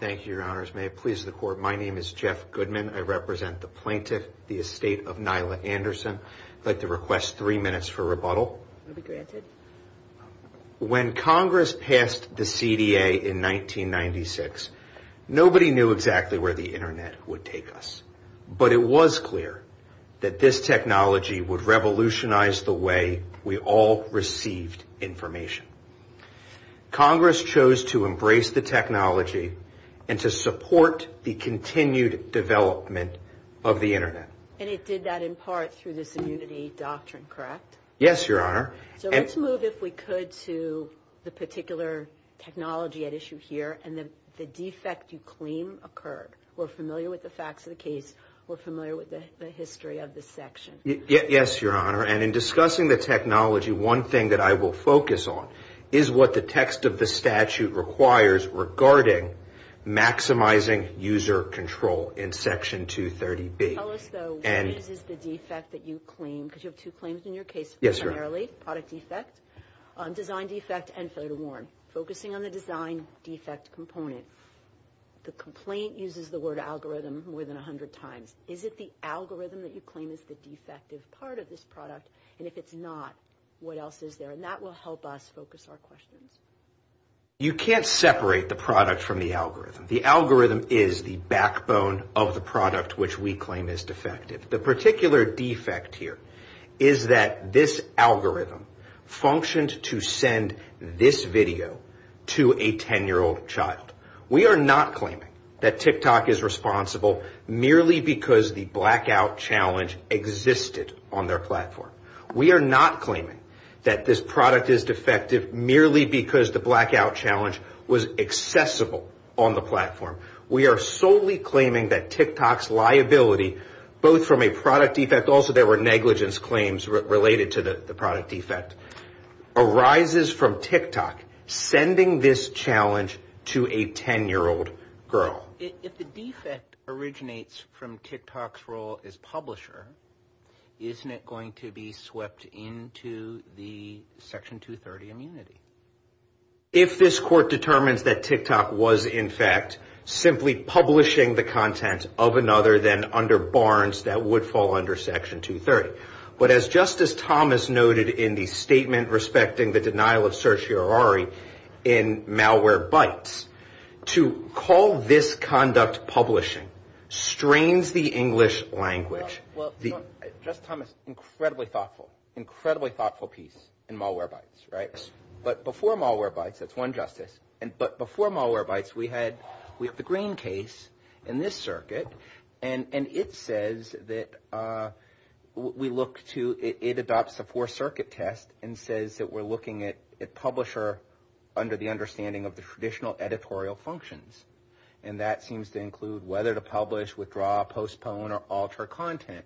Thank you, your honors. May it please the court. My name is Jeff Goodman. I represent the plaintiff, the estate of Nyla Anderson. I'd like to request three minutes for rebuttal. When Congress passed the CDA in 1996, nobody knew exactly where the Internet would take us. But it was clear that this technology would revolutionize the way we all received information. Congress chose to embrace the technology and to support the continued development of the Internet. And it did that in part through this immunity doctrine, correct? Yes, your honor. So let's move, if we could, to the particular technology at issue here and the defect you claim occurred. We're familiar with the facts of the case. We're familiar with the history of the section. Yes, your honor. And in discussing the technology, one thing that I will focus on is what the text of the statute requires regarding maximizing user control in Section 230B. Tell us, though, what is the defect that you claim? Because you have two claims in your case. Yes, your honor. Primarily, product defect, design defect, and failure to warn. Focusing on the design defect component, the complaint uses the word algorithm more than 100 times. Is it the algorithm that you claim is the defective part of this product? And if it's not, what else is there? And that will help us focus our questions. You can't separate the product from the algorithm. The algorithm is the backbone of the product which we claim is defective. The particular defect here is that this algorithm functioned to send this video to a 10-year-old child. We are not claiming that TikTok is responsible merely because the blackout challenge existed on their platform. We are not claiming that this product is defective merely because the blackout challenge was accessible on the platform. We are solely claiming that TikTok's liability, both from a product defect, also there were negligence claims related to the product defect, arises from TikTok sending this challenge to a 10-year-old girl. If the defect originates from TikTok's role as publisher, isn't it going to be swept into the Section 230 immunity? If this court determines that TikTok was, in fact, simply publishing the content of another than under Barnes, that would fall under Section 230. But as Justice Thomas noted in the statement respecting the denial of certiorari in Malwarebytes, to call this conduct publishing strains the English language. Well, Justice Thomas, incredibly thoughtful, incredibly thoughtful piece in Malwarebytes, right? But before Malwarebytes, that's one justice, but before Malwarebytes we had the Green case in this circuit, and it says that we look to, it adopts a four-circuit test and says that we're looking at publisher under the understanding of the traditional editorial functions. And that seems to include whether to publish, withdraw, postpone, or alter content.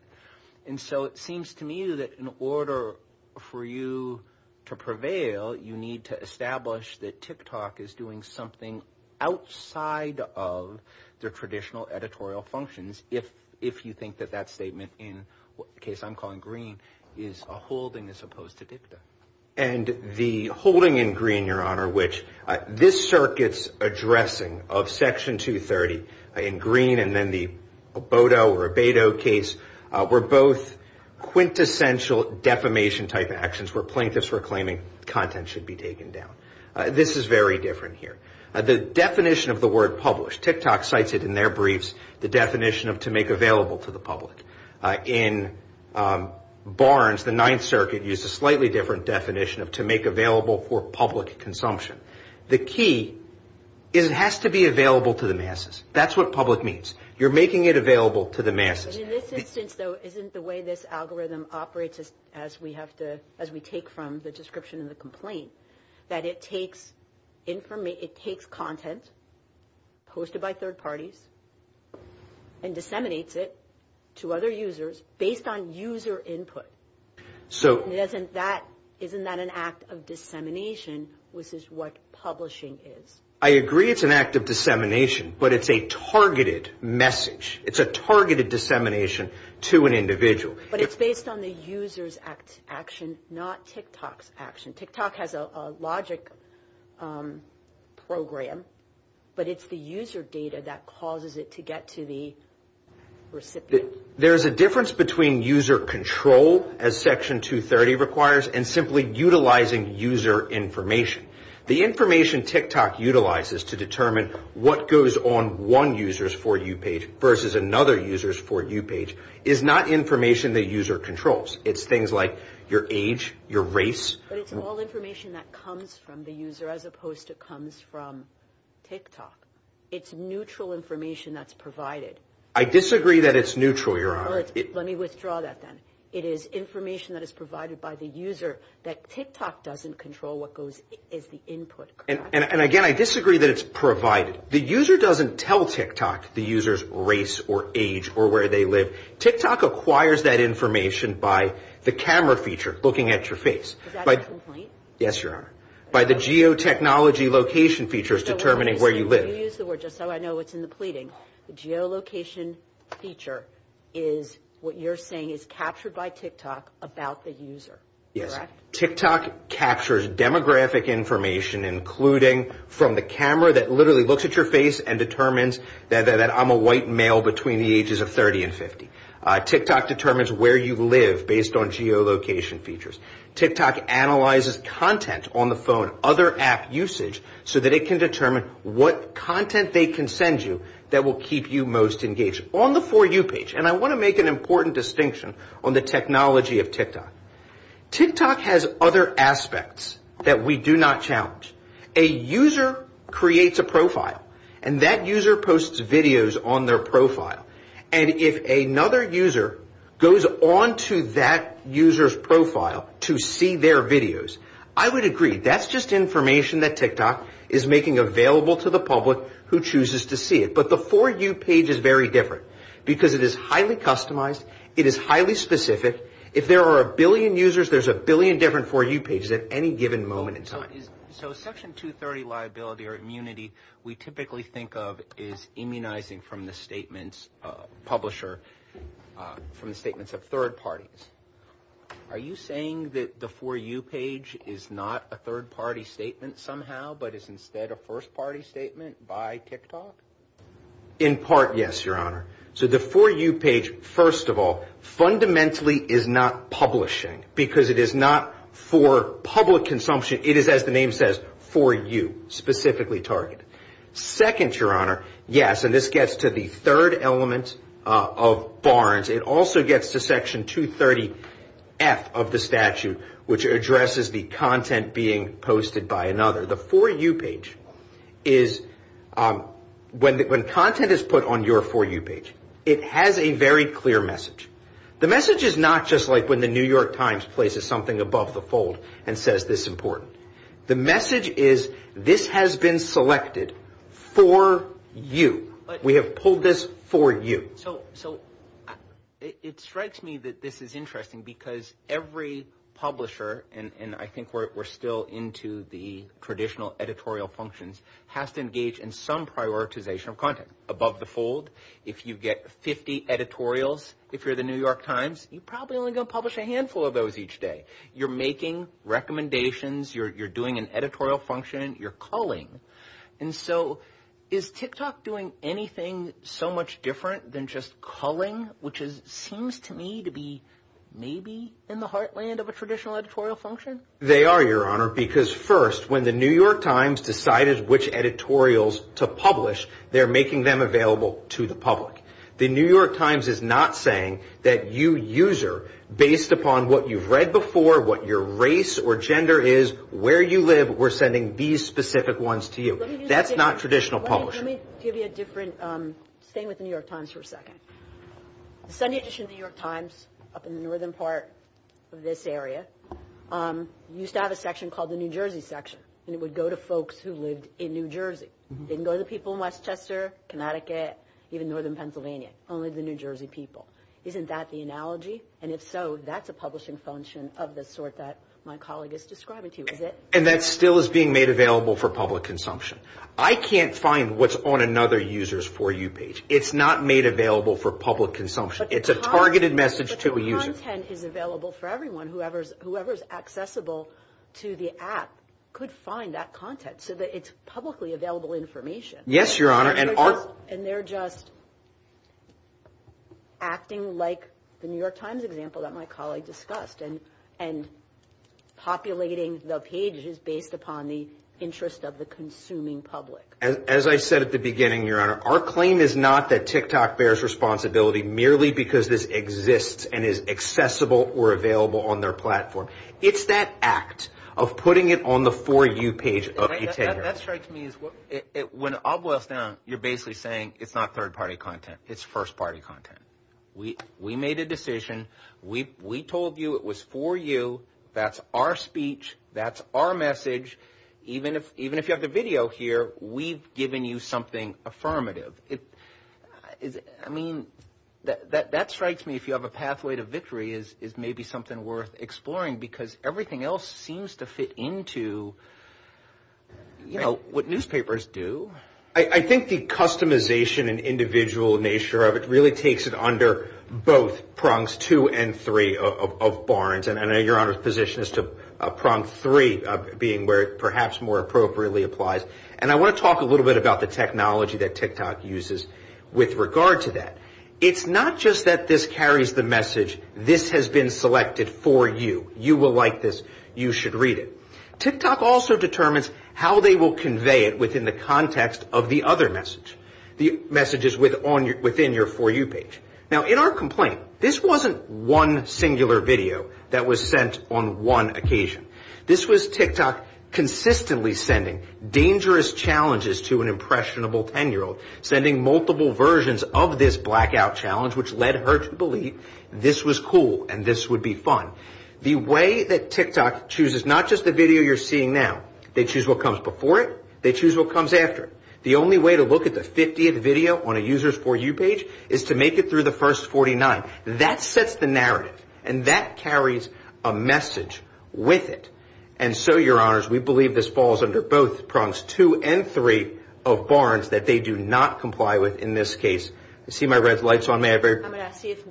And so it seems to me that in order for you to prevail, you need to establish that TikTok is doing something outside of their traditional editorial functions, if you think that that statement in the case I'm calling Green is a holding as opposed to dicta. And the holding in Green, Your Honor, which this circuit's addressing of Section 230 in Green and then the Bodo or Beto case were both quintessential defamation-type actions where plaintiffs were claiming content should be taken down. This is very different here. The definition of the word published, TikTok cites it in their briefs, the definition of to make available to the public. In Barnes, the Ninth Circuit used a slightly different definition of to make available for public consumption. The key is it has to be available to the masses. That's what public means. You're making it available to the masses. But in this instance, though, isn't the way this algorithm operates, as we take from the description of the complaint, that it takes content posted by third parties and disseminates it to other users based on user input? Isn't that an act of dissemination, which is what publishing is? I agree it's an act of dissemination, but it's a targeted message. It's a targeted dissemination to an individual. But it's based on the user's action, not TikTok's action. TikTok has a logic program, but it's the user data that causes it to get to the recipient. There's a difference between user control, as Section 230 requires, and simply utilizing user information. The information TikTok utilizes to determine what goes on one user's For You page versus another user's For You page is not information the user controls. It's things like your age, your race. But it's all information that comes from the user as opposed to comes from TikTok. It's neutral information that's provided. I disagree that it's neutral, Your Honor. Let me withdraw that, then. It is information that is provided by the user that TikTok doesn't control what is the input. And, again, I disagree that it's provided. The user doesn't tell TikTok the user's race or age or where they live. TikTok acquires that information by the camera feature looking at your face. Is that a complaint? Yes, Your Honor. By the geotechnology location features determining where you live. You use the word just so I know what's in the pleading. The geolocation feature is what you're saying is captured by TikTok about the user, correct? Yes. TikTok captures demographic information, including from the camera that literally looks at your face and determines that I'm a white male between the ages of 30 and 50. TikTok determines where you live based on geolocation features. TikTok analyzes content on the phone, other app usage, so that it can determine what content they can send you that will keep you most engaged. On the For You page, and I want to make an important distinction on the technology of TikTok. TikTok has other aspects that we do not challenge. A user creates a profile, and that user posts videos on their profile. And if another user goes on to that user's profile to see their videos, I would agree. That's just information that TikTok is making available to the public who chooses to see it. But the For You page is very different because it is highly customized. It is highly specific. If there are a billion users, there's a billion different For You pages at any given moment in time. So Section 230 liability or immunity we typically think of is immunizing from the statements publisher from the statements of third parties. Are you saying that the For You page is not a third party statement somehow, but is instead a first party statement by TikTok? In part, yes, Your Honor. So the For You page, first of all, fundamentally is not publishing because it is not for public consumption. It is, as the name says, For You, specifically targeted. Second, Your Honor, yes, and this gets to the third element of Barnes. It also gets to Section 230F of the statute, which addresses the content being posted by another. The For You page is when content is put on your For You page, it has a very clear message. The message is not just like when the New York Times places something above the fold and says this is important. The message is this has been selected for you. We have pulled this for you. So it strikes me that this is interesting because every publisher, and I think we're still into the traditional editorial functions, has to engage in some prioritization of content above the fold. If you get 50 editorials, if you're the New York Times, you're probably only going to publish a handful of those each day. You're making recommendations. You're doing an editorial function. You're calling. And so is TikTok doing anything so much different than just calling, which seems to me to be maybe in the heartland of a traditional editorial function? They are, Your Honor, because first, when the New York Times decided which editorials to publish, they're making them available to the public. The New York Times is not saying that you user, based upon what you've read before, what your race or gender is, where you live, we're sending these specific ones to you. That's not traditional publishing. Let me give you a different – staying with the New York Times for a second. The Sunday edition of the New York Times up in the northern part of this area used to have a section called the New Jersey section, and it would go to folks who lived in New Jersey. It didn't go to the people in Westchester, Connecticut, even northern Pennsylvania, only the New Jersey people. Isn't that the analogy? And if so, that's a publishing function of the sort that my colleague is describing to you, is it? And that still is being made available for public consumption. I can't find what's on another user's For You page. It's not made available for public consumption. It's a targeted message to a user. But the content is available for everyone. Whoever is accessible to the app could find that content so that it's publicly available information. Yes, Your Honor. And they're just acting like the New York Times example that my colleague discussed and populating the pages based upon the interest of the consuming public. As I said at the beginning, Your Honor, our claim is not that TikTok bears responsibility merely because this exists and is accessible or available on their platform. It's that act of putting it on the For You page of eTed. That strikes me as when it all boils down, you're basically saying it's not third-party content. It's first-party content. We made a decision. We told you it was For You. That's our speech. That's our message. Even if you have the video here, we've given you something affirmative. I mean, that strikes me if you have a pathway to victory is maybe something worth exploring because everything else seems to fit into what newspapers do. I think the customization and individual nature of it really takes it under both prongs two and three of Barnes. And I know Your Honor's position as to prong three being where it perhaps more appropriately applies. And I want to talk a little bit about the technology that TikTok uses with regard to that. It's not just that this carries the message, this has been selected for you. You will like this. You should read it. TikTok also determines how they will convey it within the context of the other message, the messages within your For You page. Now, in our complaint, this wasn't one singular video that was sent on one occasion. This was TikTok consistently sending dangerous challenges to an impressionable 10-year-old, sending multiple versions of this blackout challenge, which led her to believe this was cool and this would be fun. The way that TikTok chooses not just the video you're seeing now, they choose what comes before it. They choose what comes after. The only way to look at the 50th video on a user's For You page is to make it through the first 49. That sets the narrative and that carries a message with it. And so, Your Honors, we believe this falls under both prongs two and three of Barnes that they do not comply with in this case. I see my red lights on. I'm going to see if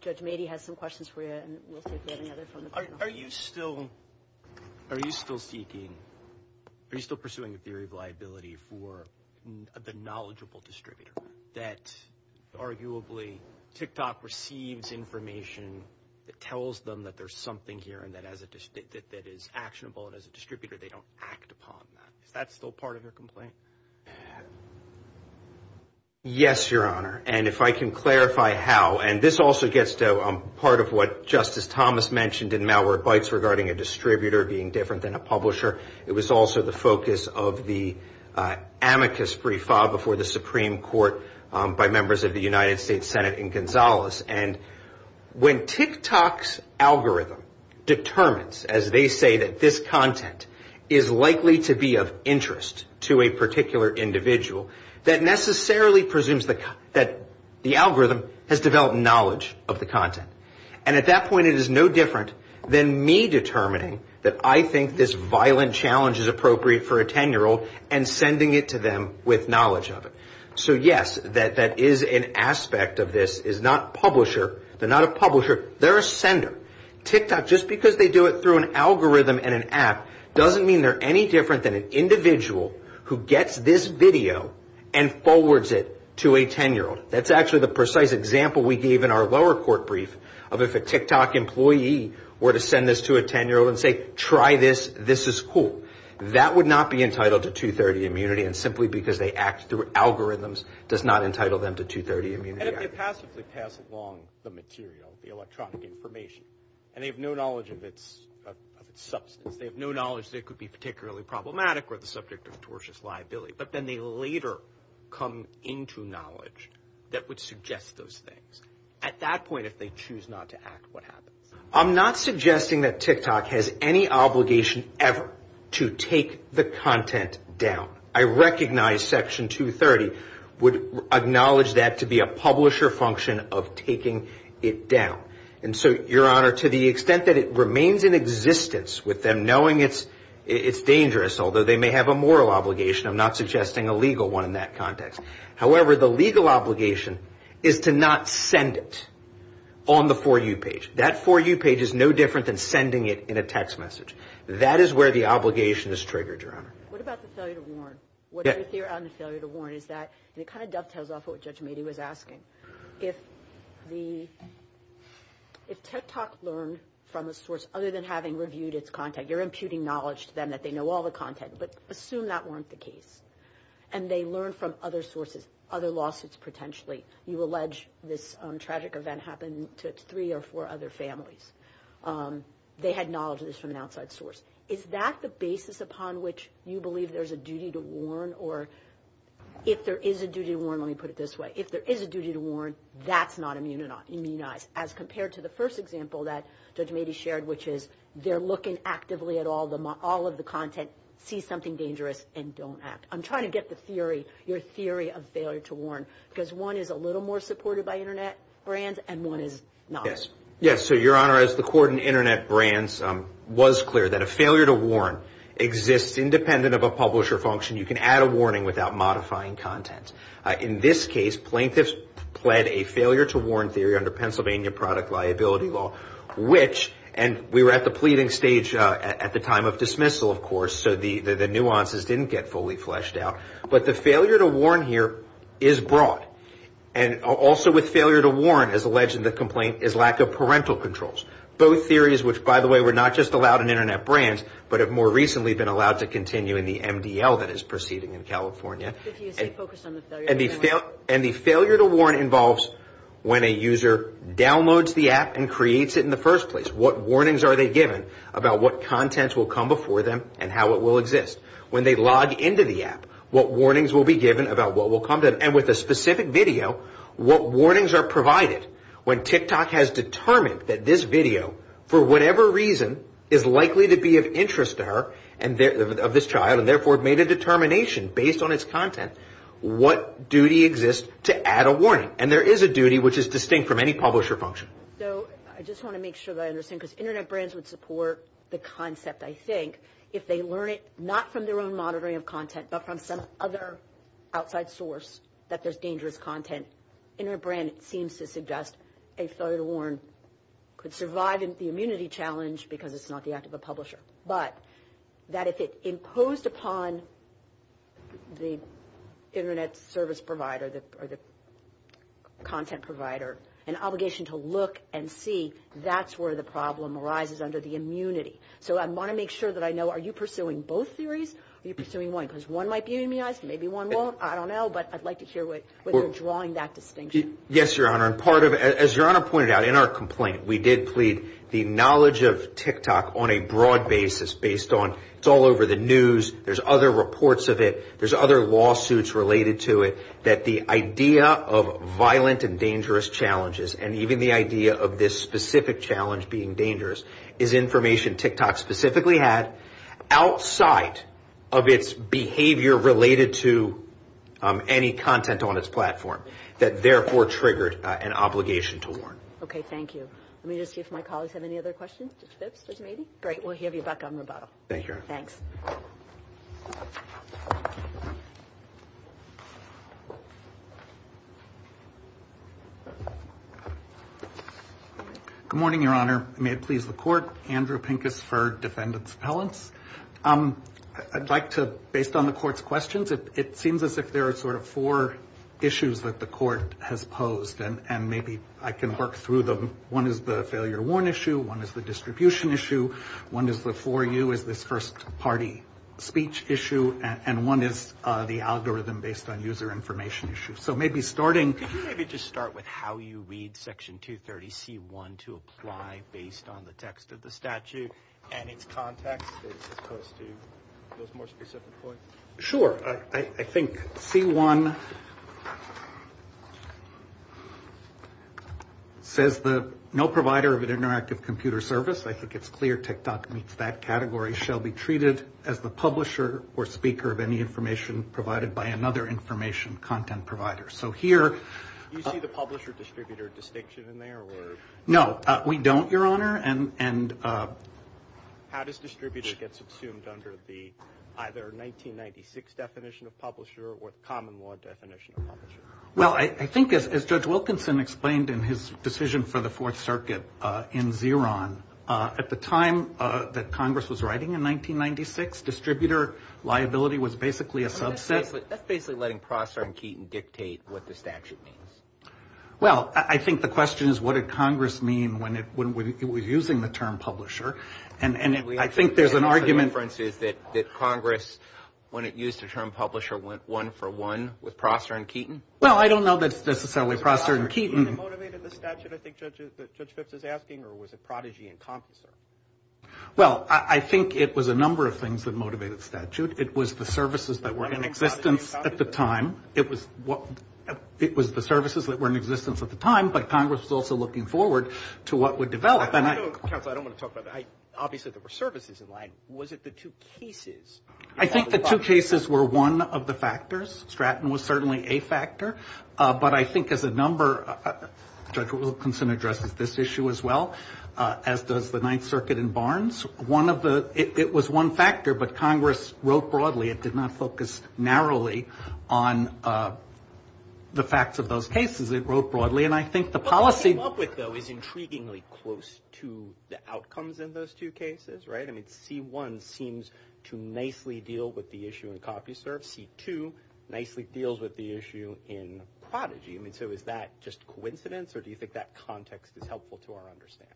Judge Mady has some questions for you and we'll see if we have any other from the panel. Are you still seeking, are you still pursuing a theory of liability for the knowledgeable distributor that arguably TikTok receives information that tells them that there's something here and that as it is actionable and as a distributor, they don't act upon that? Is that still part of your complaint? Yes, Your Honor. And if I can clarify how, and this also gets to part of what Justice Thomas mentioned in Malware Bites regarding a distributor being different than a publisher. It was also the focus of the amicus brief filed before the Supreme Court by members of the United States Senate in Gonzales. And when TikTok's algorithm determines, as they say, that this content is likely to be of interest to a particular individual, that necessarily presumes that the algorithm has developed knowledge of the content. And at that point, it is no different than me determining that I think this violent challenge is appropriate for a 10-year-old and sending it to them with knowledge of it. So yes, that is an aspect of this, is not publisher, they're not a publisher, they're a sender. TikTok, just because they do it through an algorithm and an app, doesn't mean they're any different than an individual who gets this video and forwards it to a 10-year-old. That's actually the precise example we gave in our lower court brief of if a TikTok employee were to send this to a 10-year-old and say, try this, this is cool. That would not be entitled to 230 immunity, and simply because they act through algorithms does not entitle them to 230 immunity. And if they passively pass along the material, the electronic information, and they have no knowledge of its substance, they have no knowledge that it could be particularly problematic or the subject of tortious liability. But then they later come into knowledge that would suggest those things. At that point, if they choose not to act, what happens? I'm not suggesting that TikTok has any obligation ever to take the content down. I recognize Section 230 would acknowledge that to be a publisher function of taking it down. And so, Your Honor, to the extent that it remains in existence with them knowing it's dangerous, although they may have a moral obligation, I'm not suggesting a legal one in that context. However, the legal obligation is to not send it on the For You page. That For You page is no different than sending it in a text message. That is where the obligation is triggered, Your Honor. What about the failure to warn? What is your theory on the failure to warn? It kind of dovetails off of what Judge Mady was asking. If TikTok learned from a source other than having reviewed its content, you're imputing knowledge to them that they know all the content, but assume that weren't the case, and they learn from other sources, other lawsuits potentially. You allege this tragic event happened to three or four other families. They had knowledge of this from an outside source. Is that the basis upon which you believe there's a duty to warn? Or if there is a duty to warn, let me put it this way, if there is a duty to warn, that's not immunized, as compared to the first example that Judge Mady shared, which is they're looking actively at all of the content, see something dangerous, and don't act. I'm trying to get the theory, your theory of failure to warn, because one is a little more supported by Internet brands and one is not. Yes. So, Your Honor, as the court in Internet brands was clear that a failure to warn exists independent of a publisher function. You can add a warning without modifying content. In this case, plaintiffs pled a failure to warn theory under Pennsylvania product liability law, which, and we were at the pleading stage at the time of dismissal, of course, so the nuances didn't get fully fleshed out. But the failure to warn here is broad. And also with failure to warn, as alleged in the complaint, is lack of parental controls. Both theories, which, by the way, were not just allowed in Internet brands, but have more recently been allowed to continue in the MDL that is proceeding in California. And the failure to warn involves when a user downloads the app and creates it in the first place. What warnings are they given about what contents will come before them and how it will exist? When they log into the app, what warnings will be given about what will come to them? And with a specific video, what warnings are provided when TikTok has determined that this video, for whatever reason, is likely to be of interest to her, of this child, and therefore made a determination based on its content, what duty exists to add a warning? And there is a duty which is distinct from any publisher function. So I just want to make sure that I understand, because Internet brands would support the concept, I think, if they learn it not from their own monitoring of content, but from some other outside source, that there's dangerous content. Internet brand seems to suggest a failure to warn could survive the immunity challenge because it's not the act of a publisher. But that if it imposed upon the Internet service provider or the content provider an obligation to look and see, that's where the problem arises under the immunity. So I want to make sure that I know, are you pursuing both theories or are you pursuing one? Because one might be immunized, maybe one won't. I don't know, but I'd like to hear whether you're drawing that distinction. Yes, Your Honor. As Your Honor pointed out in our complaint, we did plead the knowledge of TikTok on a broad basis, based on it's all over the news, there's other reports of it, there's other lawsuits related to it, that the idea of violent and dangerous challenges and even the idea of this specific challenge being dangerous is information TikTok specifically had outside of its behavior related to any content on its platform that therefore triggered an obligation to warn. Okay, thank you. Let me just see if my colleagues have any other questions. Mr. Phipps, maybe? Great, we'll have you back on rebuttal. Thank you, Your Honor. Thanks. Good morning, Your Honor. May it please the Court. Andrew Pincus for Defendant's Appellants. I'd like to, based on the Court's questions, it seems as if there are sort of four issues that the Court has posed, and maybe I can work through them. One is the failure to warn issue, one is the distribution issue, one is the for you is this first party speech issue, and one is the algorithm based on user information issue. So maybe starting... ...those more specific points? Sure. I think C1 says that no provider of an interactive computer service, I think it's clear TikTok meets that category, shall be treated as the publisher or speaker of any information provided by another information content provider. So here... Do you see the publisher-distributor distinction in there? No, we don't, Your Honor. How does distributor get subsumed under the either 1996 definition of publisher or the common law definition of publisher? Well, I think as Judge Wilkinson explained in his decision for the Fourth Circuit in Xeron, at the time that Congress was writing in 1996, distributor liability was basically a subset. That's basically letting Prosser and Keaton dictate what the statute means. Well, I think the question is what did Congress mean when it was using the term publisher? And I think there's an argument... The inference is that Congress, when it used the term publisher, went one for one with Prosser and Keaton? Well, I don't know that it's necessarily Prosser and Keaton. Was Prosser and Keaton what motivated the statute, I think Judge Phipps is asking, or was it Prodigy and Compenser? Well, I think it was a number of things that motivated the statute. It was the services that were in existence at the time. It was the services that were in existence at the time, but Congress was also looking forward to what would develop. Counsel, I don't want to talk about that. Obviously, there were services in line. Was it the two cases? I think the two cases were one of the factors. Stratton was certainly a factor. But I think as a number, Judge Wilkinson addresses this issue as well, as does the Ninth Circuit in Barnes. One of the – it was one factor, but Congress wrote broadly. It did not focus narrowly on the facts of those cases. It wrote broadly, and I think the policy – What they came up with, though, is intriguingly close to the outcomes in those two cases, right? I mean, C-1 seems to nicely deal with the issue in Compenser. C-2 nicely deals with the issue in Prodigy. I mean, so is that just coincidence, or do you think that context is helpful to our understanding?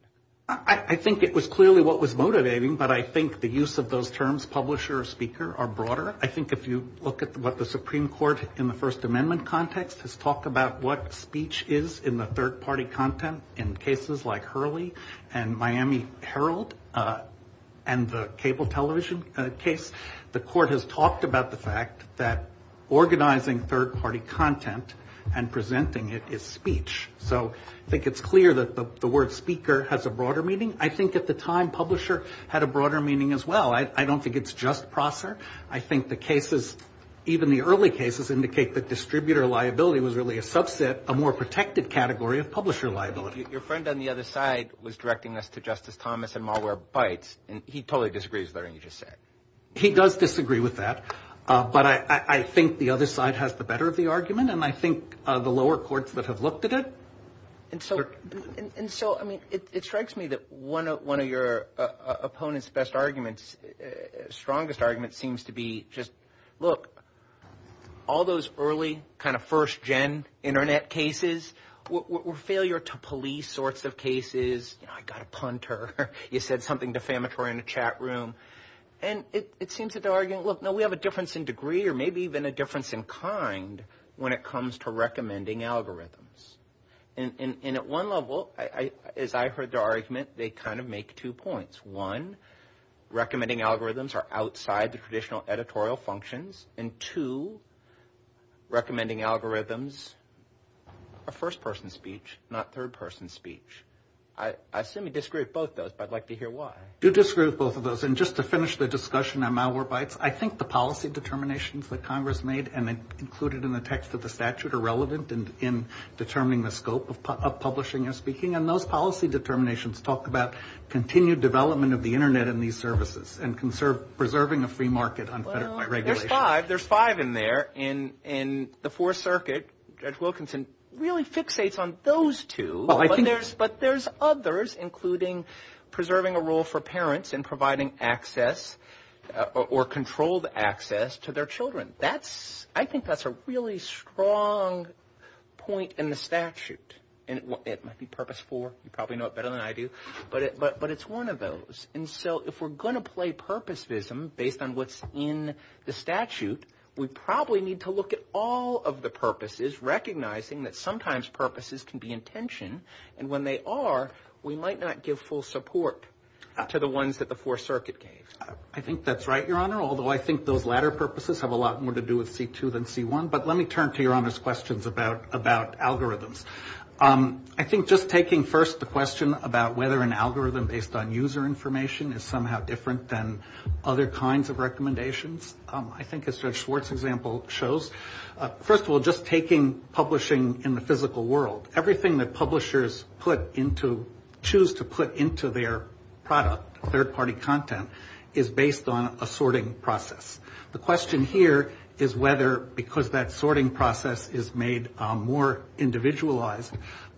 I think it was clearly what was motivating, but I think the use of those terms, publisher or speaker, are broader. I think if you look at what the Supreme Court in the First Amendment context has talked about, what speech is in the third-party content in cases like Hurley and Miami Herald and the cable television case, the court has talked about the fact that organizing third-party content and presenting it is speech. So I think it's clear that the word speaker has a broader meaning. I think at the time, publisher had a broader meaning as well. I don't think it's just Prosser. I think the cases, even the early cases, indicate that distributor liability was really a subset, a more protected category of publisher liability. Your friend on the other side was directing this to Justice Thomas in Malware Bites, and he totally disagrees with everything you just said. He does disagree with that, but I think the other side has the better of the argument, and I think the lower courts that have looked at it. And so, I mean, it strikes me that one of your opponents' best arguments, strongest argument, seems to be just, look, all those early kind of first-gen Internet cases were failure-to-police sorts of cases. You know, I got a punter. You said something defamatory in a chat room. And it seems that they're arguing, look, no, we have a difference in degree or maybe even a difference in kind when it comes to recommending algorithms. And at one level, as I heard their argument, they kind of make two points. One, recommending algorithms are outside the traditional editorial functions, and two, recommending algorithms are first-person speech, not third-person speech. I assume you disagree with both those, but I'd like to hear why. I do disagree with both of those. And just to finish the discussion on Malwarebytes, I think the policy determinations that Congress made and included in the text of the statute are relevant in determining the scope of publishing and speaking. And those policy determinations talk about continued development of the Internet and these services and preserving a free market on federal regulations. Well, there's five. There's five in there. And the Fourth Circuit, Judge Wilkinson, really fixates on those two. But there's others, including preserving a role for parents and providing access or controlled access to their children. I think that's a really strong point in the statute. And it might be Purpose 4. You probably know it better than I do. But it's one of those. And so if we're going to play purposivism based on what's in the statute, we probably need to look at all of the purposes, recognizing that sometimes purposes can be intention, and when they are we might not give full support to the ones that the Fourth Circuit gave. I think that's right, Your Honor, although I think those latter purposes have a lot more to do with C2 than C1. But let me turn to Your Honor's questions about algorithms. I think just taking first the question about whether an algorithm based on user information is somehow different than other kinds of recommendations, I think as Judge Schwartz's example shows. First of all, just taking publishing in the physical world, everything that publishers choose to put into their product, third-party content, is based on a sorting process. The question here is whether, because that sorting process is made more individualized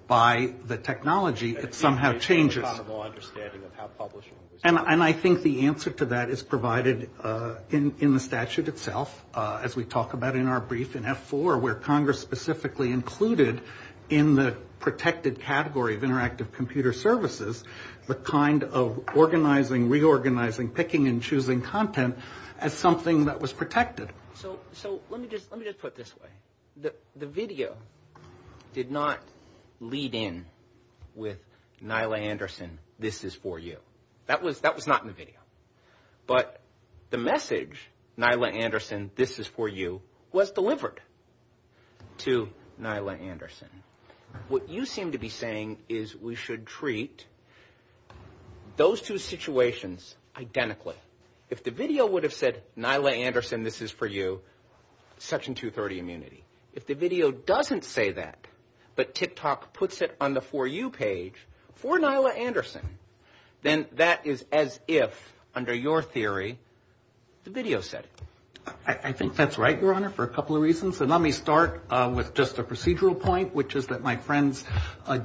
by the technology, it somehow changes. It's based on an understanding of how publishing works. And I think the answer to that is provided in the statute itself, as we talk about in our brief in F4, where Congress specifically included in the protected category of interactive computer services the kind of organizing, reorganizing, picking, and choosing content as something that was protected. So let me just put it this way. The video did not lead in with Nyla Anderson, this is for you. That was not in the video. But the message, Nyla Anderson, this is for you, was delivered to Nyla Anderson. What you seem to be saying is we should treat those two situations identically. If the video would have said, Nyla Anderson, this is for you, section 230 immunity. If the video doesn't say that, but TikTok puts it on the for you page for Nyla Anderson, then that is as if, under your theory, the video said it. I think that's right, Your Honor, for a couple of reasons. And let me start with just a procedural point, which is that my friends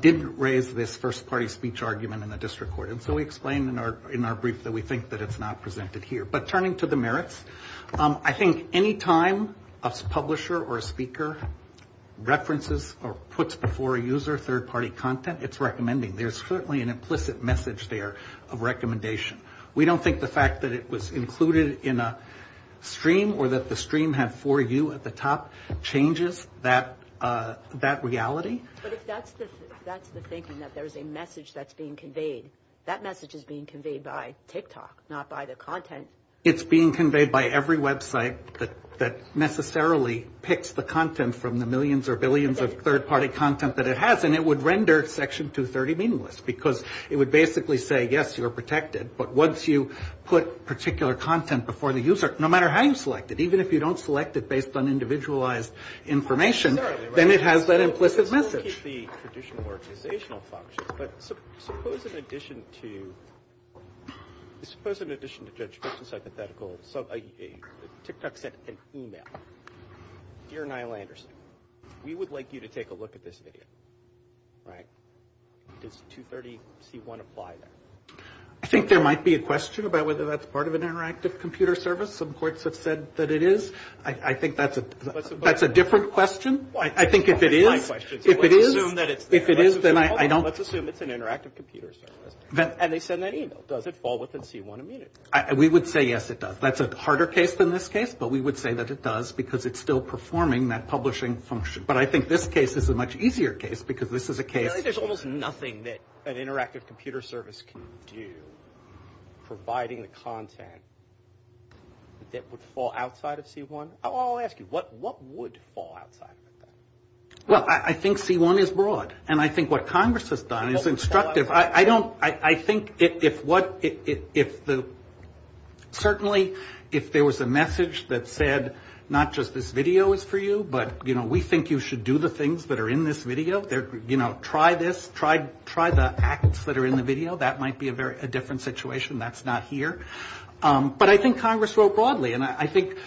didn't raise this first-party speech argument in the district court. And so we explained in our brief that we think that it's not presented here. But turning to the merits, I think any time a publisher or a speaker references or puts before a user third-party content, it's recommending. There's certainly an implicit message there of recommendation. We don't think the fact that it was included in a stream or that the stream had for you at the top changes that reality. But if that's the thinking, that there's a message that's being conveyed, that message is being conveyed by TikTok, not by the content. It's being conveyed by every website that necessarily picks the content from the millions or billions of third-party content that it has. And it would render Section 230 meaningless because it would basically say, yes, you're protected. But once you put particular content before the user, no matter how you select it, even if you don't select it based on individualized information, then it has that implicit message. Let's look at the traditional organizational functions. But suppose in addition to judgemental, TikTok sent an email. Dear Niall Anderson, we would like you to take a look at this video. Does 230C1 apply there? I think there might be a question about whether that's part of an interactive computer service. Some courts have said that it is. I think that's a different question. I think if it is, if it is, then I don't. Let's assume it's an interactive computer service. And they send that email. Does it fall within C1 immunity? We would say, yes, it does. That's a harder case than this case. But we would say that it does because it's still performing that publishing function. But I think this case is a much easier case because this is a case. There's almost nothing that an interactive computer service can do, providing the content that would fall outside of C1? I'll ask you, what would fall outside of that? Well, I think C1 is broad. And I think what Congress has done is instructive. You know, I don't, I think if what, if the, certainly if there was a message that said not just this video is for you, but, you know, we think you should do the things that are in this video. You know, try this. Try the acts that are in the video. That might be a different situation. That's not here. But I think Congress wrote broadly. And I think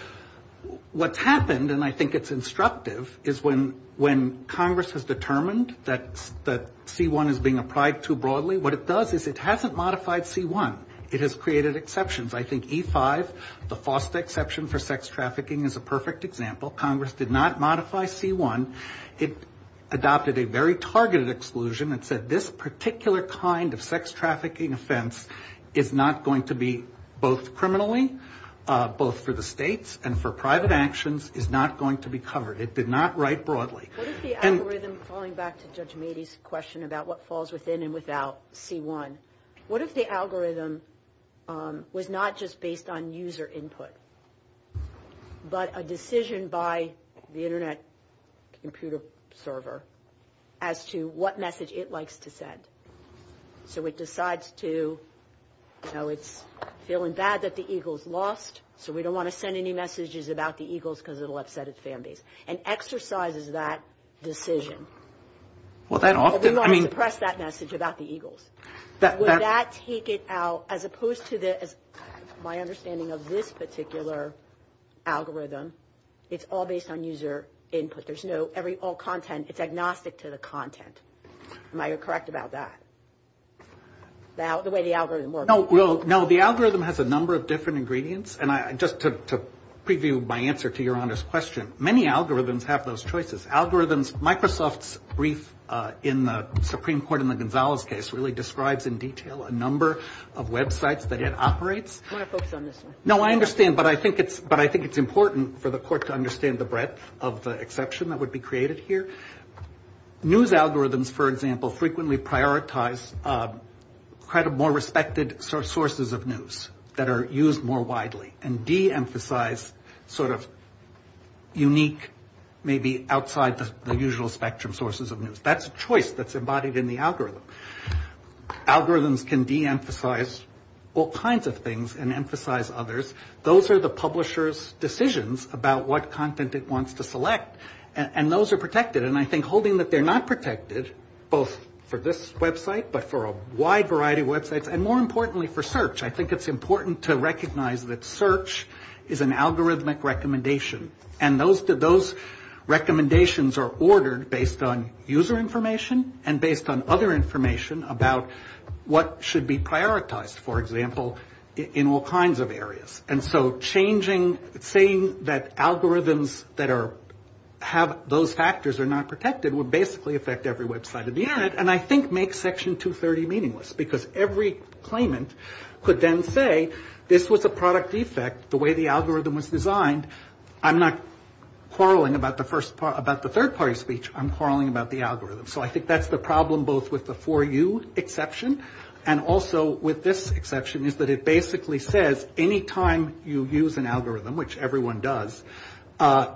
what's happened, and I think it's instructive, is when Congress has determined that C1 is being applied too broadly, what it does is it hasn't modified C1. It has created exceptions. I think E5, the FOSTA exception for sex trafficking, is a perfect example. Congress did not modify C1. It adopted a very targeted exclusion. It said this particular kind of sex trafficking offense is not going to be both criminally, both for the states and for private actions, is not going to be covered. It did not write broadly. What if the algorithm, falling back to Judge Mady's question about what falls within and without C1, what if the algorithm was not just based on user input, but a decision by the Internet computer server as to what message it likes to send? So it decides to, you know, it's feeling bad that the Eagles lost, so we don't want to send any messages about the Eagles because it will upset its fan base, and exercises that decision. But we want to suppress that message about the Eagles. Would that take it out, as opposed to the, my understanding of this particular algorithm, it's all based on user input. There's no, every, all content, it's agnostic to the content. Am I correct about that, the way the algorithm works? No, the algorithm has a number of different ingredients, and just to preview my answer to Your Honor's question, many algorithms have those choices. Algorithms, Microsoft's brief in the Supreme Court in the Gonzalez case really describes in detail a number of websites that it operates. I want to focus on this one. No, I understand, but I think it's important for the court to understand the breadth of the exception that would be created here. News algorithms, for example, frequently prioritize kind of more respected sources of news that are used more widely, and de-emphasize sort of unique, maybe outside the usual spectrum sources of news. That's a choice that's embodied in the algorithm. Algorithms can de-emphasize all kinds of things and emphasize others. Those are the publisher's decisions about what content it wants to select, and those are protected, and I think holding that they're not protected, both for this website, but for a wide variety of websites, and more importantly for search, I think it's important to recognize that search is an algorithmic recommendation, and those recommendations are ordered based on user information and based on other information about what should be prioritized, for example, in all kinds of areas. And so changing, saying that algorithms that have those factors are not protected would basically affect every website on the Internet, and I think makes Section 230 meaningless, because every claimant could then say this was a product defect, the way the algorithm was designed, I'm not quarreling about the third-party speech, I'm quarreling about the algorithm. So I think that's the problem, both with the 4U exception, and also with this exception is that it basically says any time you use an algorithm, which everyone does,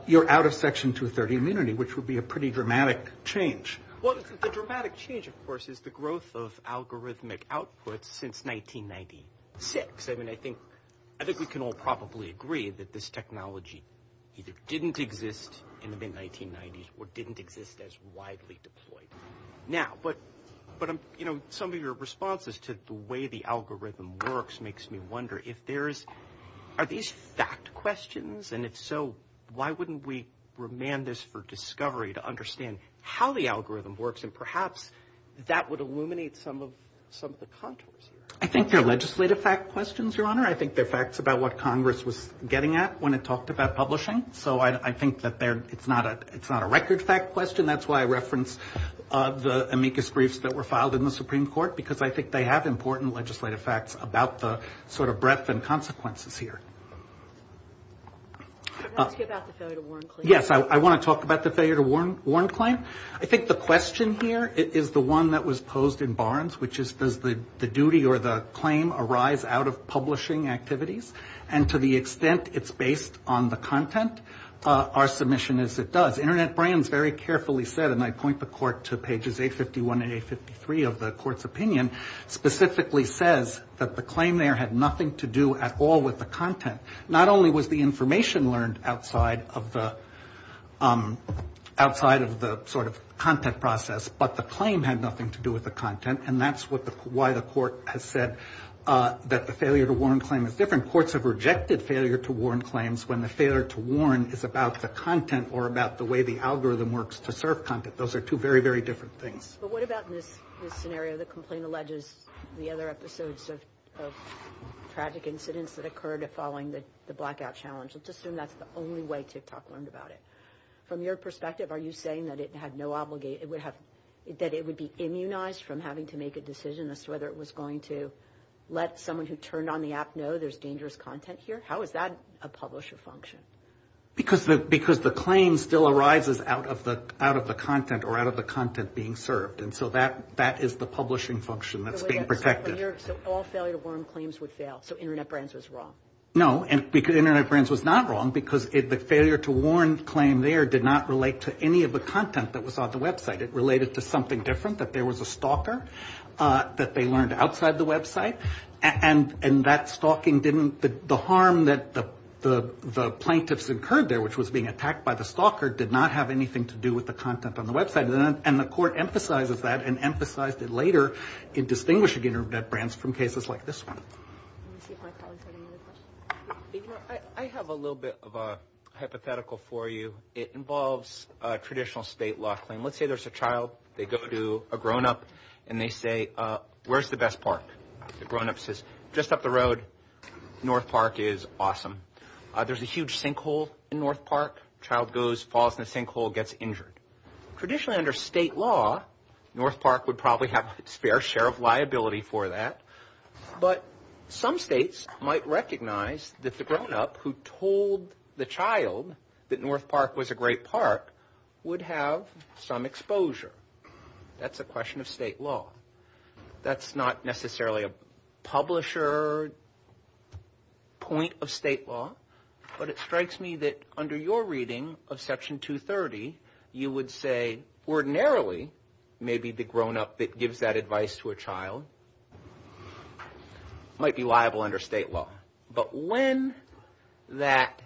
you're out of Section 230 immunity, which would be a pretty dramatic change. Well, the dramatic change, of course, is the growth of algorithmic outputs since 1996. I mean, I think we can all probably agree that this technology either didn't exist in the mid-1990s or didn't exist as widely deployed. Now, but, you know, some of your responses to the way the algorithm works makes me wonder if there is, are these fact questions, and if so, why wouldn't we remand this for discovery to understand how the algorithm works, and perhaps that would illuminate some of the contours here. I think they're legislative fact questions, Your Honor. I think they're facts about what Congress was getting at when it talked about publishing. So I think that it's not a record fact question. That's why I reference the amicus briefs that were filed in the Supreme Court, because I think they have important legislative facts about the sort of breadth and consequences here. I was going to ask you about the failure to warn claim. Yes, I want to talk about the failure to warn claim. I think the question here is the one that was posed in Barnes, which is does the duty or the claim arise out of publishing activities, and to the extent it's based on the content, our submission is it does. Internet brands very carefully said, and I point the court to pages 851 and 853 of the court's opinion, specifically says that the claim there had nothing to do at all with the content. Not only was the information learned outside of the sort of content process, but the claim had nothing to do with the content, and that's why the court has said that the failure to warn claim is different. And courts have rejected failure to warn claims when the failure to warn is about the content or about the way the algorithm works to serve content. Those are two very, very different things. But what about in this scenario, the complaint alleges the other episodes of tragic incidents that occurred following the blackout challenge? Let's assume that's the only way TikTok learned about it. From your perspective, are you saying that it would be immunized from having to make a decision as to whether it was going to let someone who turned on the app know there's dangerous content here? How is that a publisher function? Because the claim still arises out of the content or out of the content being served, and so that is the publishing function that's being protected. So all failure to warn claims would fail. So Internet Brands was wrong. No, Internet Brands was not wrong because the failure to warn claim there did not relate to any of the content that was on the website. It related to something different, that there was a stalker that they learned outside the website. And that stalking didn't – the harm that the plaintiffs incurred there, which was being attacked by the stalker, did not have anything to do with the content on the website. And the court emphasizes that and emphasized it later in distinguishing Internet Brands from cases like this one. Let me see if my colleagues have any other questions. I have a little bit of a hypothetical for you. It involves a traditional state law claim. Let's say there's a child. They go to a grown-up, and they say, where's the best park? The grown-up says, just up the road, North Park is awesome. There's a huge sinkhole in North Park. Child goes, falls in the sinkhole, gets injured. Traditionally under state law, North Park would probably have a fair share of liability for that. But some states might recognize that the grown-up who told the child that North Park was a great park would have some exposure. That's a question of state law. That's not necessarily a publisher point of state law, but it strikes me that under your reading of Section 230, you would say, ordinarily, maybe the grown-up that gives that advice to a child might be liable under state law. But when that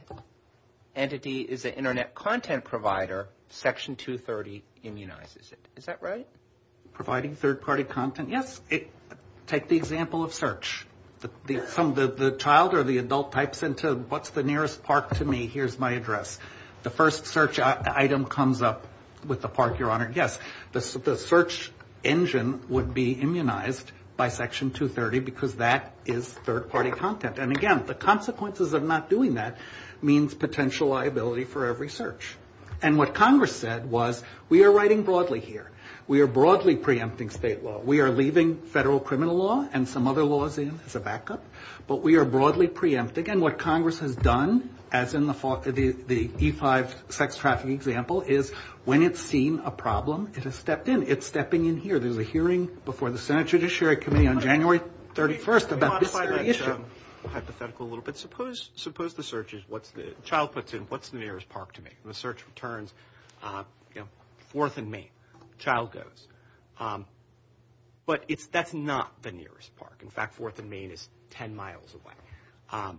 entity is an Internet content provider, Section 230 immunizes it. Is that right? Providing third-party content, yes. Take the example of search. The child or the adult types into, what's the nearest park to me? Here's my address. The first search item comes up with the park you're on, yes. The search engine would be immunized by Section 230, because that is third-party content. And, again, the consequences of not doing that means potential liability for every search. And what Congress said was, we are writing broadly here. We are broadly preempting state law. We are leaving federal criminal law and some other laws in as a backup. But we are broadly preempting. And, again, what Congress has done, as in the E-5 sex trafficking example, is when it's seen a problem, it has stepped in. It's stepping in here. There's a hearing before the Senate Judiciary Committee on January 31st about this very issue. Can you modify that hypothetical a little bit? Suppose the search is, what's the nearest park to me? And the search returns, you know, 4th and Main. The child goes. But that's not the nearest park. In fact, 4th and Main is 10 miles away.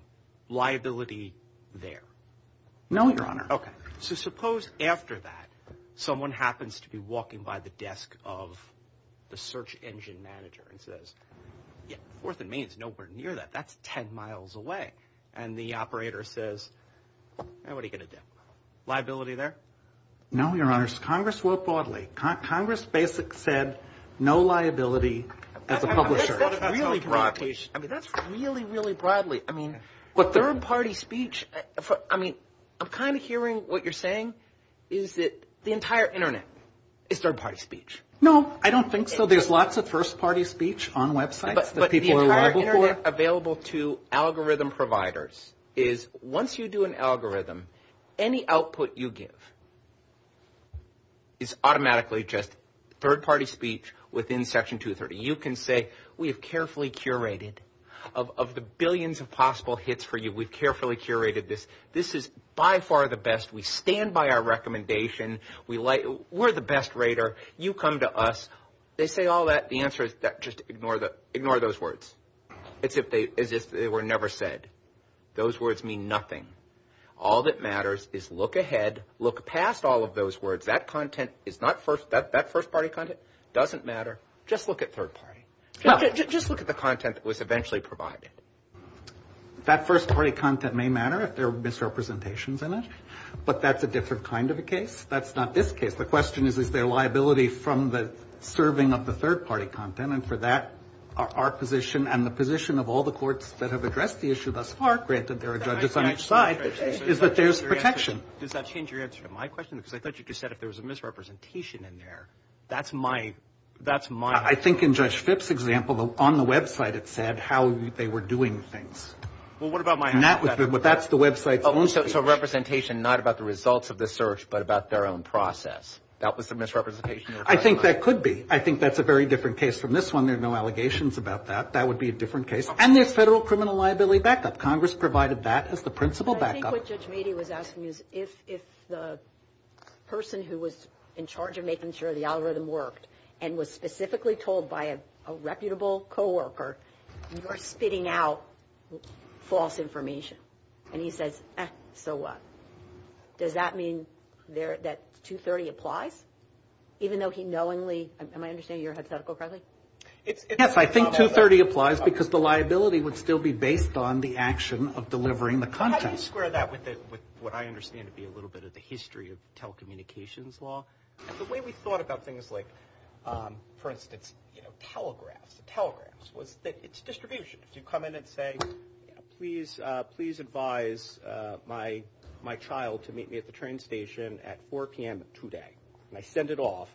Liability there? No, Your Honor. Okay. So suppose after that someone happens to be walking by the desk of the search engine manager and says, yeah, 4th and Main is nowhere near that. That's 10 miles away. And the operator says, hey, what are you going to do? Liability there? No, Your Honors. Congress wrote broadly. Congress basically said no liability as a publisher. That's really broadly. I mean, that's really, really broadly. I mean, third-party speech, I mean, I'm kind of hearing what you're saying is that the entire Internet is third-party speech. No, I don't think so. There's lots of first-party speech on websites that people are aware of. But the entire Internet available to algorithm providers is once you do an algorithm, any output you give is automatically just third-party speech within Section 230. You can say we have carefully curated of the billions of possible hits for you, we've carefully curated this. This is by far the best. We stand by our recommendation. We're the best rater. You come to us. They say all that. The answer is just ignore those words as if they were never said. Those words mean nothing. All that matters is look ahead, look past all of those words. That content is not first – that first-party content doesn't matter. Just look at third-party. Just look at the content that was eventually provided. That first-party content may matter if there are misrepresentations in it, but that's a different kind of a case. That's not this case. The question is, is there liability from the serving of the third-party content? And for that, our position and the position of all the courts that have addressed the issue thus far, granted there are judges on each side, is that there's protection. Does that change your answer to my question? Because I thought you just said if there was a misrepresentation in there, that's my – that's my – I think in Judge Phipps' example, on the website it said how they were doing things. Well, what about my – That's the website's own – So representation not about the results of the search but about their own process. That was the misrepresentation. I think that could be. I think that's a very different case from this one. There are no allegations about that. That would be a different case. And there's federal criminal liability backup. Congress provided that as the principal backup. I think what Judge Meade was asking is if the person who was in charge of making sure the algorithm worked and was specifically told by a reputable coworker, you're spitting out false information. And he says, so what? Does that mean that 230 applies, even though he knowingly – am I understanding your hypothetical correctly? Yes. I think 230 applies because the liability would still be based on the action of delivering the contents. Can you square that with what I understand to be a little bit of the history of telecommunications law? The way we thought about things like, for instance, telegraphs, telegraphs, was that it's distribution. If you come in and say, please advise my child to meet me at the train station at 4 p.m. today, and I send it off,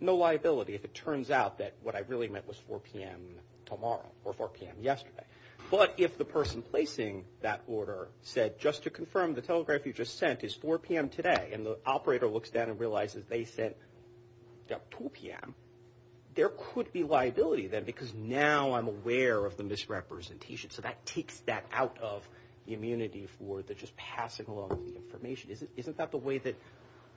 no liability if it turns out that what I really meant was 4 p.m. tomorrow or 4 p.m. yesterday. But if the person placing that order said, just to confirm, the telegraph you just sent is 4 p.m. today, and the operator looks down and realizes they sent at 2 p.m., there could be liability there because now I'm aware of the misrepresentation. So that takes that out of the immunity for the just passing along the information. Isn't that the way that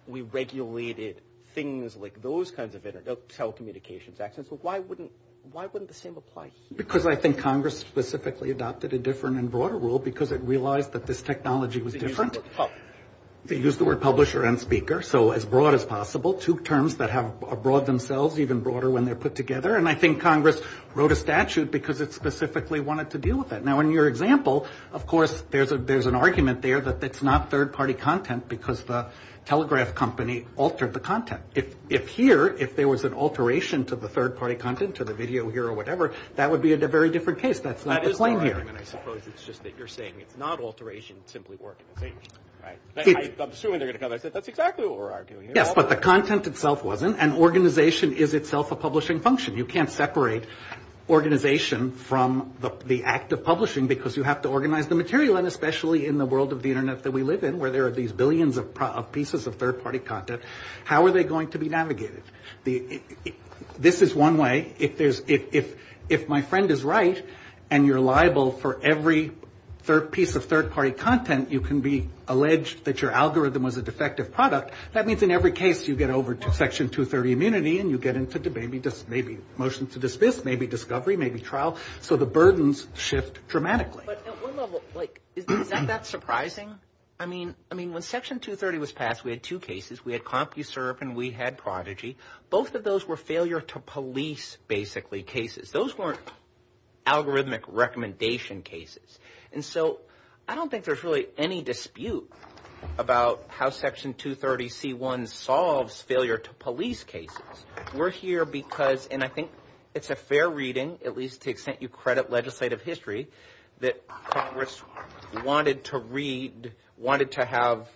we regulated things like those kinds of telecommunications actions? Why wouldn't the same apply here? Because I think Congress specifically adopted a different and broader rule because it realized that this technology was different. They used the word publisher and speaker, so as broad as possible. Two terms that are broad themselves, even broader when they're put together. And I think Congress wrote a statute because it specifically wanted to deal with that. Now, in your example, of course, there's an argument there that it's not third-party content because the telegraph company altered the content. If here, if there was an alteration to the third-party content, to the video here or whatever, that would be a very different case. That's not the claim here. That is the argument, I suppose. It's just that you're saying it's not alteration. It's simply organization, right? I'm assuming they're going to come back and say, that's exactly what we're arguing here. Yes, but the content itself wasn't, and organization is itself a publishing function. You can't separate organization from the act of publishing because you have to organize the material, and especially in the world of the Internet that we live in where there are these billions of pieces of third-party content. How are they going to be navigated? This is one way. If there's, if my friend is right and you're liable for every piece of third-party content, you can be alleged that your algorithm was a defective product. That means in every case you get over to Section 230 immunity, and you get into maybe motion to dismiss, maybe discovery, maybe trial. So the burdens shift dramatically. But at what level, like, is that surprising? I mean, when Section 230 was passed, we had two cases. We had CompuServe and we had Prodigy. Both of those were failure-to-police, basically, cases. Those weren't algorithmic recommendation cases. And so I don't think there's really any dispute about how Section 230c1 solves failure-to-police cases. We're here because, and I think it's a fair reading, at least to the extent you credit legislative history, that Congress wanted to read, wanted to have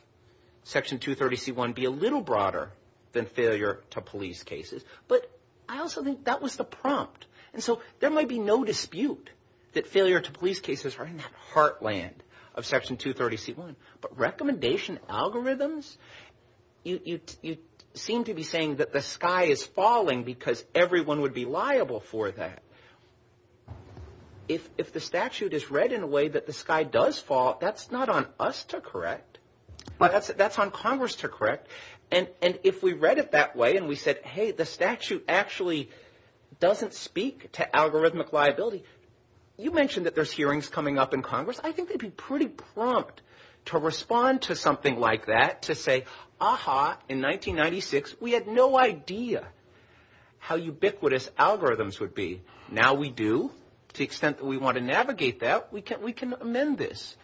Section 230c1 be a little broader than failure-to-police cases. But I also think that was the prompt. And so there might be no dispute that failure-to-police cases are in that heartland of Section 230c1. But recommendation algorithms, you seem to be saying that the sky is falling because everyone would be liable for that. If the statute is read in a way that the sky does fall, that's not on us to correct. That's on Congress to correct. And if we read it that way and we said, hey, the statute actually doesn't speak to algorithmic liability. You mentioned that there's hearings coming up in Congress. I think they'd be pretty prompt to respond to something like that, to say, aha, in 1996 we had no idea how ubiquitous algorithms would be. Now we do. To the extent that we want to navigate that, we can amend this.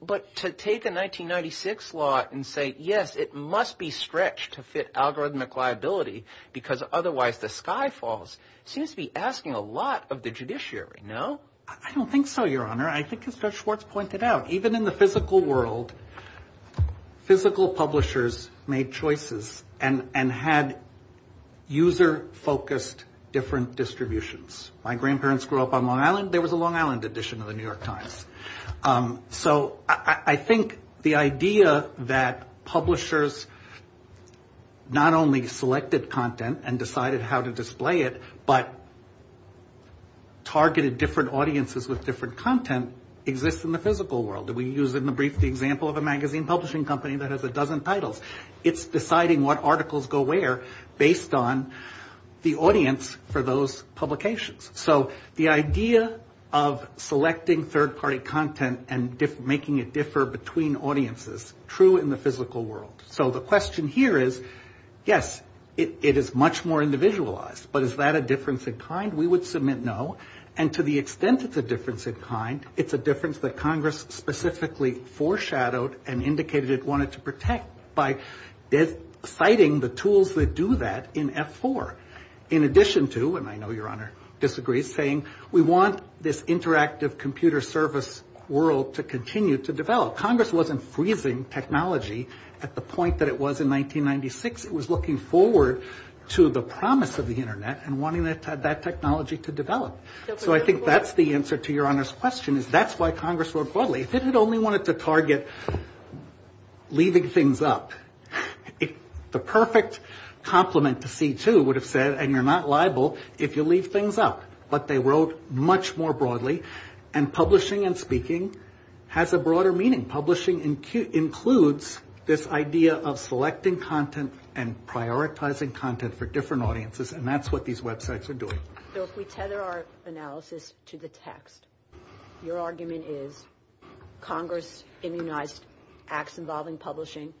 But to take a 1996 law and say, yes, it must be stretched to fit algorithmic liability because otherwise the sky falls seems to be asking a lot of the judiciary, no? I don't think so, Your Honor. I think as Judge Schwartz pointed out, even in the physical world, physical publishers made choices and had user-focused different distributions. My grandparents grew up on Long Island. There was a Long Island edition of the New York Times. So I think the idea that publishers not only selected content and decided how to display it, but targeted different audiences with different content exists in the physical world. We use in the brief the example of a magazine publishing company that has a dozen titles. It's deciding what articles go where based on the audience for those publications. So the idea of selecting third-party content and making it differ between audiences, true in the physical world. So the question here is, yes, it is much more individualized, but is that a difference in kind? We would submit no. And to the extent it's a difference in kind, it's a difference that Congress specifically foreshadowed and indicated it wanted to protect by citing the tools that do that in F4. In addition to, and I know Your Honor disagrees, saying we want this interactive computer service world to continue to develop. Congress wasn't freezing technology at the point that it was in 1996. It was looking forward to the promise of the Internet and wanting that technology to develop. So I think that's the answer to Your Honor's question is that's why Congress wrote broadly. If it had only wanted to target leaving things up, the perfect compliment to C2 would have said, and you're not liable if you leave things up. But they wrote much more broadly, and publishing and speaking has a broader meaning. Publishing includes this idea of selecting content and prioritizing content for different audiences, and that's what these websites are doing. So if we tether our analysis to the text, your argument is Congress immunized acts involving publishing.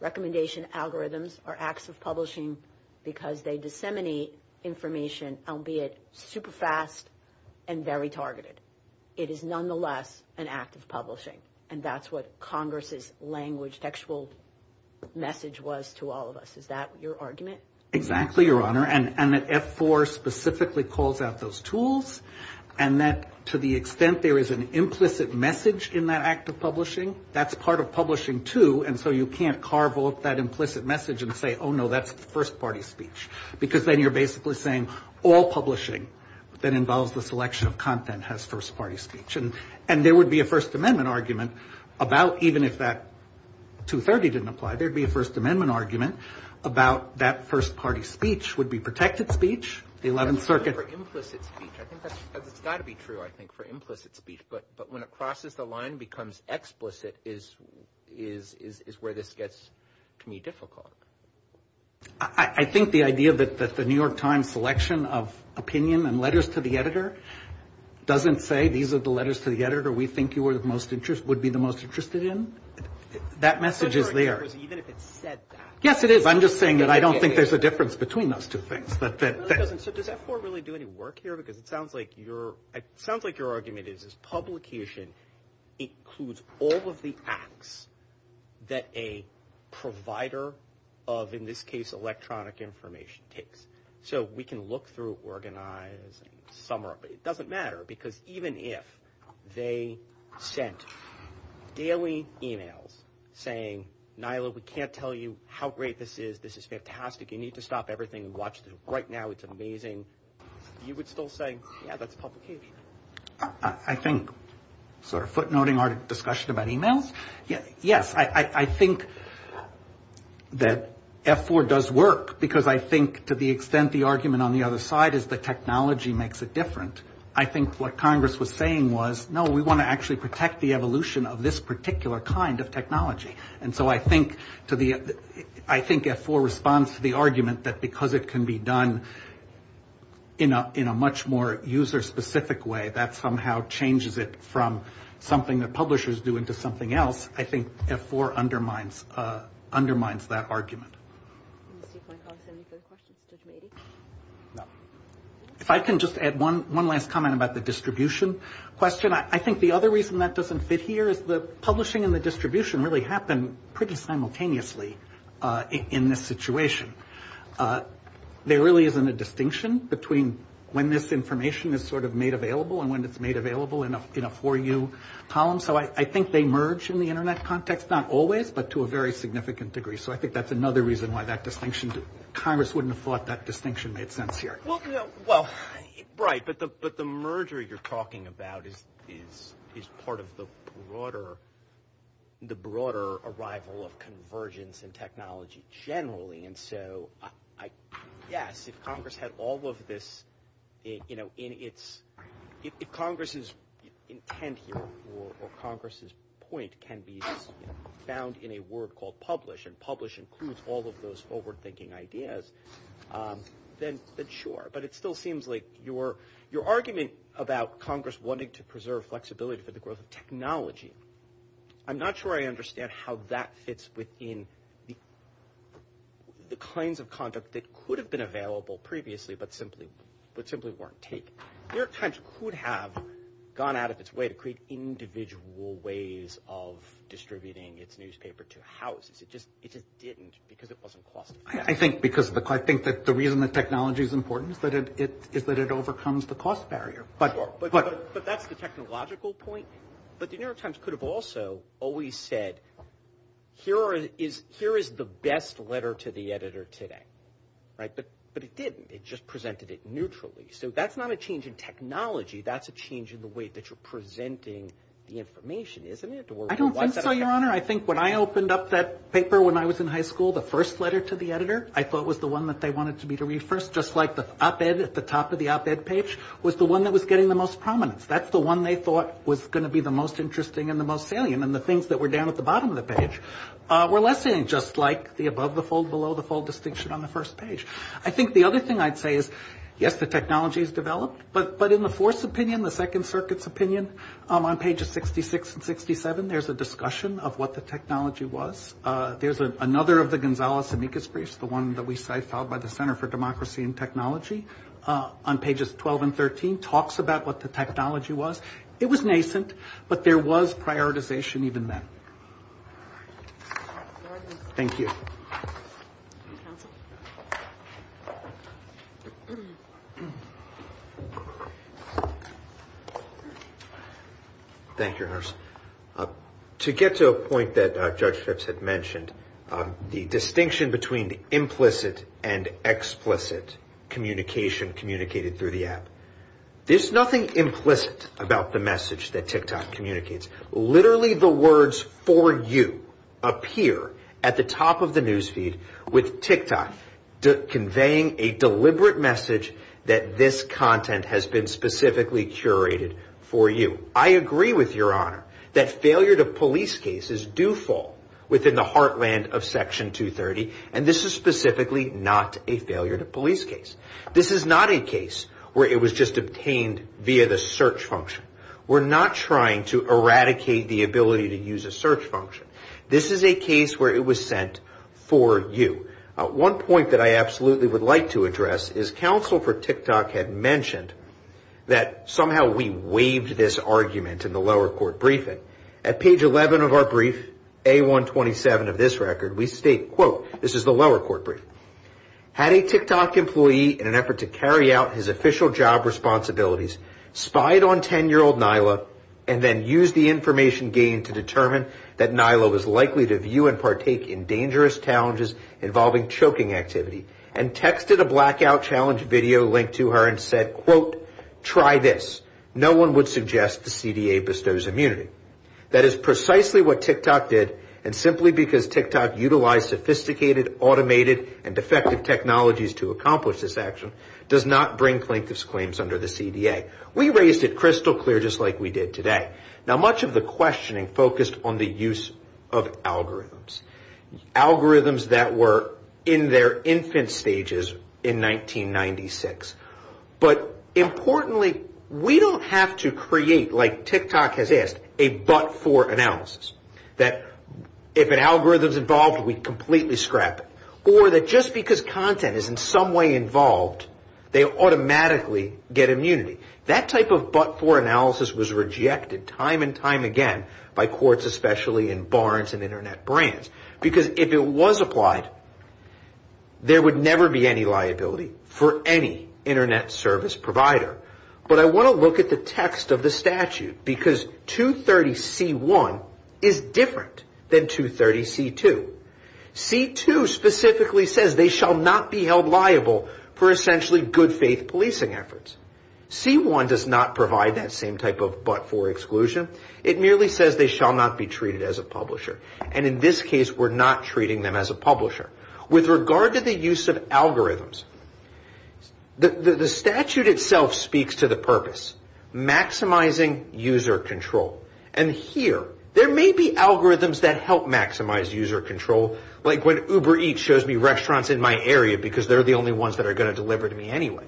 Recommendation algorithms are acts of publishing because they disseminate information, albeit super fast and very targeted. It is nonetheless an act of publishing, and that's what Congress's language, textual message was to all of us. Is that your argument? Exactly, Your Honor, and that F4 specifically calls out those tools, and that to the extent there is an implicit message in that act of publishing, that's part of publishing, too, and so you can't carve off that implicit message and say, oh, no, that's first-party speech. Because then you're basically saying all publishing that involves the selection of content has first-party speech. And there would be a First Amendment argument about even if that 230 didn't apply, there would be a First Amendment argument about that first-party speech would be protected speech, the 11th Circuit. That's true for implicit speech. I think that's got to be true, I think, for implicit speech. But when it crosses the line and becomes explicit is where this gets to me difficult. I think the idea that the New York Times selection of opinion and letters to the editor doesn't say these are the letters to the editor we think you would be the most interested in, that message is there. Even if it said that. Yes, it is. I'm just saying that I don't think there's a difference between those two things. So does F4 really do any work here? Because it sounds like your argument is publication includes all of the acts that a provider of, in this case, electronic information takes. So we can look through, organize, it doesn't matter. Because even if they sent daily emails saying, NILA, we can't tell you how great this is, this is fantastic, you need to stop everything and watch this. Right now it's amazing. You would still say, yeah, that's publication. I think sort of footnoting our discussion about emails. Yes, I think that F4 does work. Because I think to the extent the argument on the other side is the technology makes it different. I think what Congress was saying was, no, we want to actually protect the evolution of this particular kind of technology. And so I think F4 responds to the argument that because it can be done in a much more user-specific way, that somehow changes it from something that publishers do into something else. I think F4 undermines that argument. Do you have any further questions, Judge Mady? No. If I can just add one last comment about the distribution question. I think the other reason that doesn't fit here is the publishing and the distribution really happen pretty simultaneously in this situation. There really isn't a distinction between when this information is sort of made available and when it's made available in a 4U column. So I think they merge in the Internet context, not always, but to a very significant degree. So I think that's another reason why that distinction, Congress wouldn't have thought that distinction made sense here. Well, right, but the merger you're talking about is part of the broader arrival of convergence in technology generally. And so, yes, if Congress had all of this in its – if Congress's intent here or Congress's point can be found in a word called publish and publish includes all of those forward-thinking ideas, then sure. But it still seems like your argument about Congress wanting to preserve flexibility for the growth of technology, I'm not sure I understand how that fits within the kinds of conduct that could have been available previously but simply weren't taken. New York Times could have gone out of its way to create individual ways of distributing its newspaper to houses. It just didn't because it wasn't cost effective. I think because – I think that the reason that technology is important is that it overcomes the cost barrier. But that's the technological point. But the New York Times could have also always said, here is the best letter to the editor today. Right? But it didn't. It just presented it neutrally. So that's not a change in technology. That's a change in the way that you're presenting the information, isn't it? I don't think so, Your Honor. I think when I opened up that paper when I was in high school, the first letter to the editor I thought was the one that they wanted me to read first, just like the op-ed at the top of the op-ed page was the one that was getting the most prominence. That's the one they thought was going to be the most interesting and the most salient. And the things that were down at the bottom of the page were less salient, just like the above-the-fold, below-the-fold distinction on the first page. I think the other thing I'd say is, yes, the technology has developed. But in the Fourth Opinion, the Second Circuit's opinion, on pages 66 and 67, there's a discussion of what the technology was. There's another of the Gonzales-Amicus briefs, the one that we cite, followed by the Center for Democracy and Technology, on pages 12 and 13, talks about what the technology was. It was nascent, but there was prioritization even then. Thank you. Counsel? Thank you, nurse. To get to a point that Judge Phipps had mentioned, the distinction between implicit and explicit communication communicated through the app. There's nothing implicit about the message that TikTok communicates. Literally, the words, for you, appear at the top of the news feed with TikTok conveying a deliberate message that this content has been specifically curated for you. I agree with Your Honor that failure to police cases do fall within the heartland of Section 230, and this is specifically not a failure to police case. This is not a case where it was just obtained via the search function. We're not trying to eradicate the ability to use a search function. This is a case where it was sent for you. One point that I absolutely would like to address is, counsel for TikTok had mentioned that somehow we waived this argument in the lower court briefing. At page 11 of our brief, A127 of this record, we state, quote, this is the lower court briefing, Had a TikTok employee, in an effort to carry out his official job responsibilities, spied on 10-year-old Nyla and then used the information gained to determine that Nyla was likely to view and partake in dangerous challenges involving choking activity, and texted a blackout challenge video link to her and said, quote, try this. No one would suggest the CDA bestows immunity. That is precisely what TikTok did, and simply because TikTok utilized sophisticated, automated, and effective technologies to accomplish this action, does not bring plaintiff's claims under the CDA. We raised it crystal clear, just like we did today. Now, much of the questioning focused on the use of algorithms. Algorithms that were in their infant stages in 1996. But importantly, we don't have to create, like TikTok has asked, a but-for analysis. That if an algorithm is involved, we completely scrap it. Or that just because content is in some way involved, they automatically get immunity. That type of but-for analysis was rejected time and time again by courts, especially in Barnes and Internet brands. Because if it was applied, there would never be any liability for any Internet service provider. But I want to look at the text of the statute, because 230C1 is different than 230C2. C2 specifically says they shall not be held liable for essentially good-faith policing efforts. C1 does not provide that same type of but-for exclusion. It merely says they shall not be treated as a publisher. And in this case, we're not treating them as a publisher. With regard to the use of algorithms, the statute itself speaks to the purpose, maximizing user control. And here, there may be algorithms that help maximize user control, like when Uber Eats shows me restaurants in my area, because they're the only ones that are going to deliver to me anyway.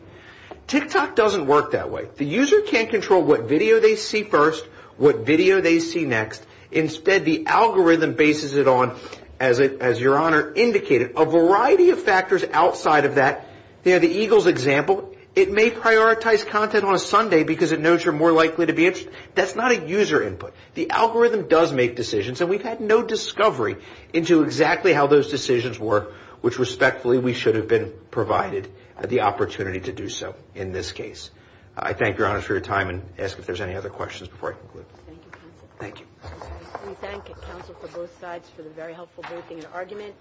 TikTok doesn't work that way. The user can't control what video they see first, what video they see next. Instead, the algorithm bases it on, as Your Honor indicated, a variety of factors outside of that. The Eagles example, it may prioritize content on a Sunday because it knows you're more likely to be interested. That's not a user input. The algorithm does make decisions, and we've had no discovery into exactly how those decisions work, which respectfully, we should have been provided the opportunity to do so in this case. I thank Your Honor for your time and ask if there's any other questions before I conclude. Thank you, counsel. Thank you. We thank counsel for both sides for the very helpful briefing and argument.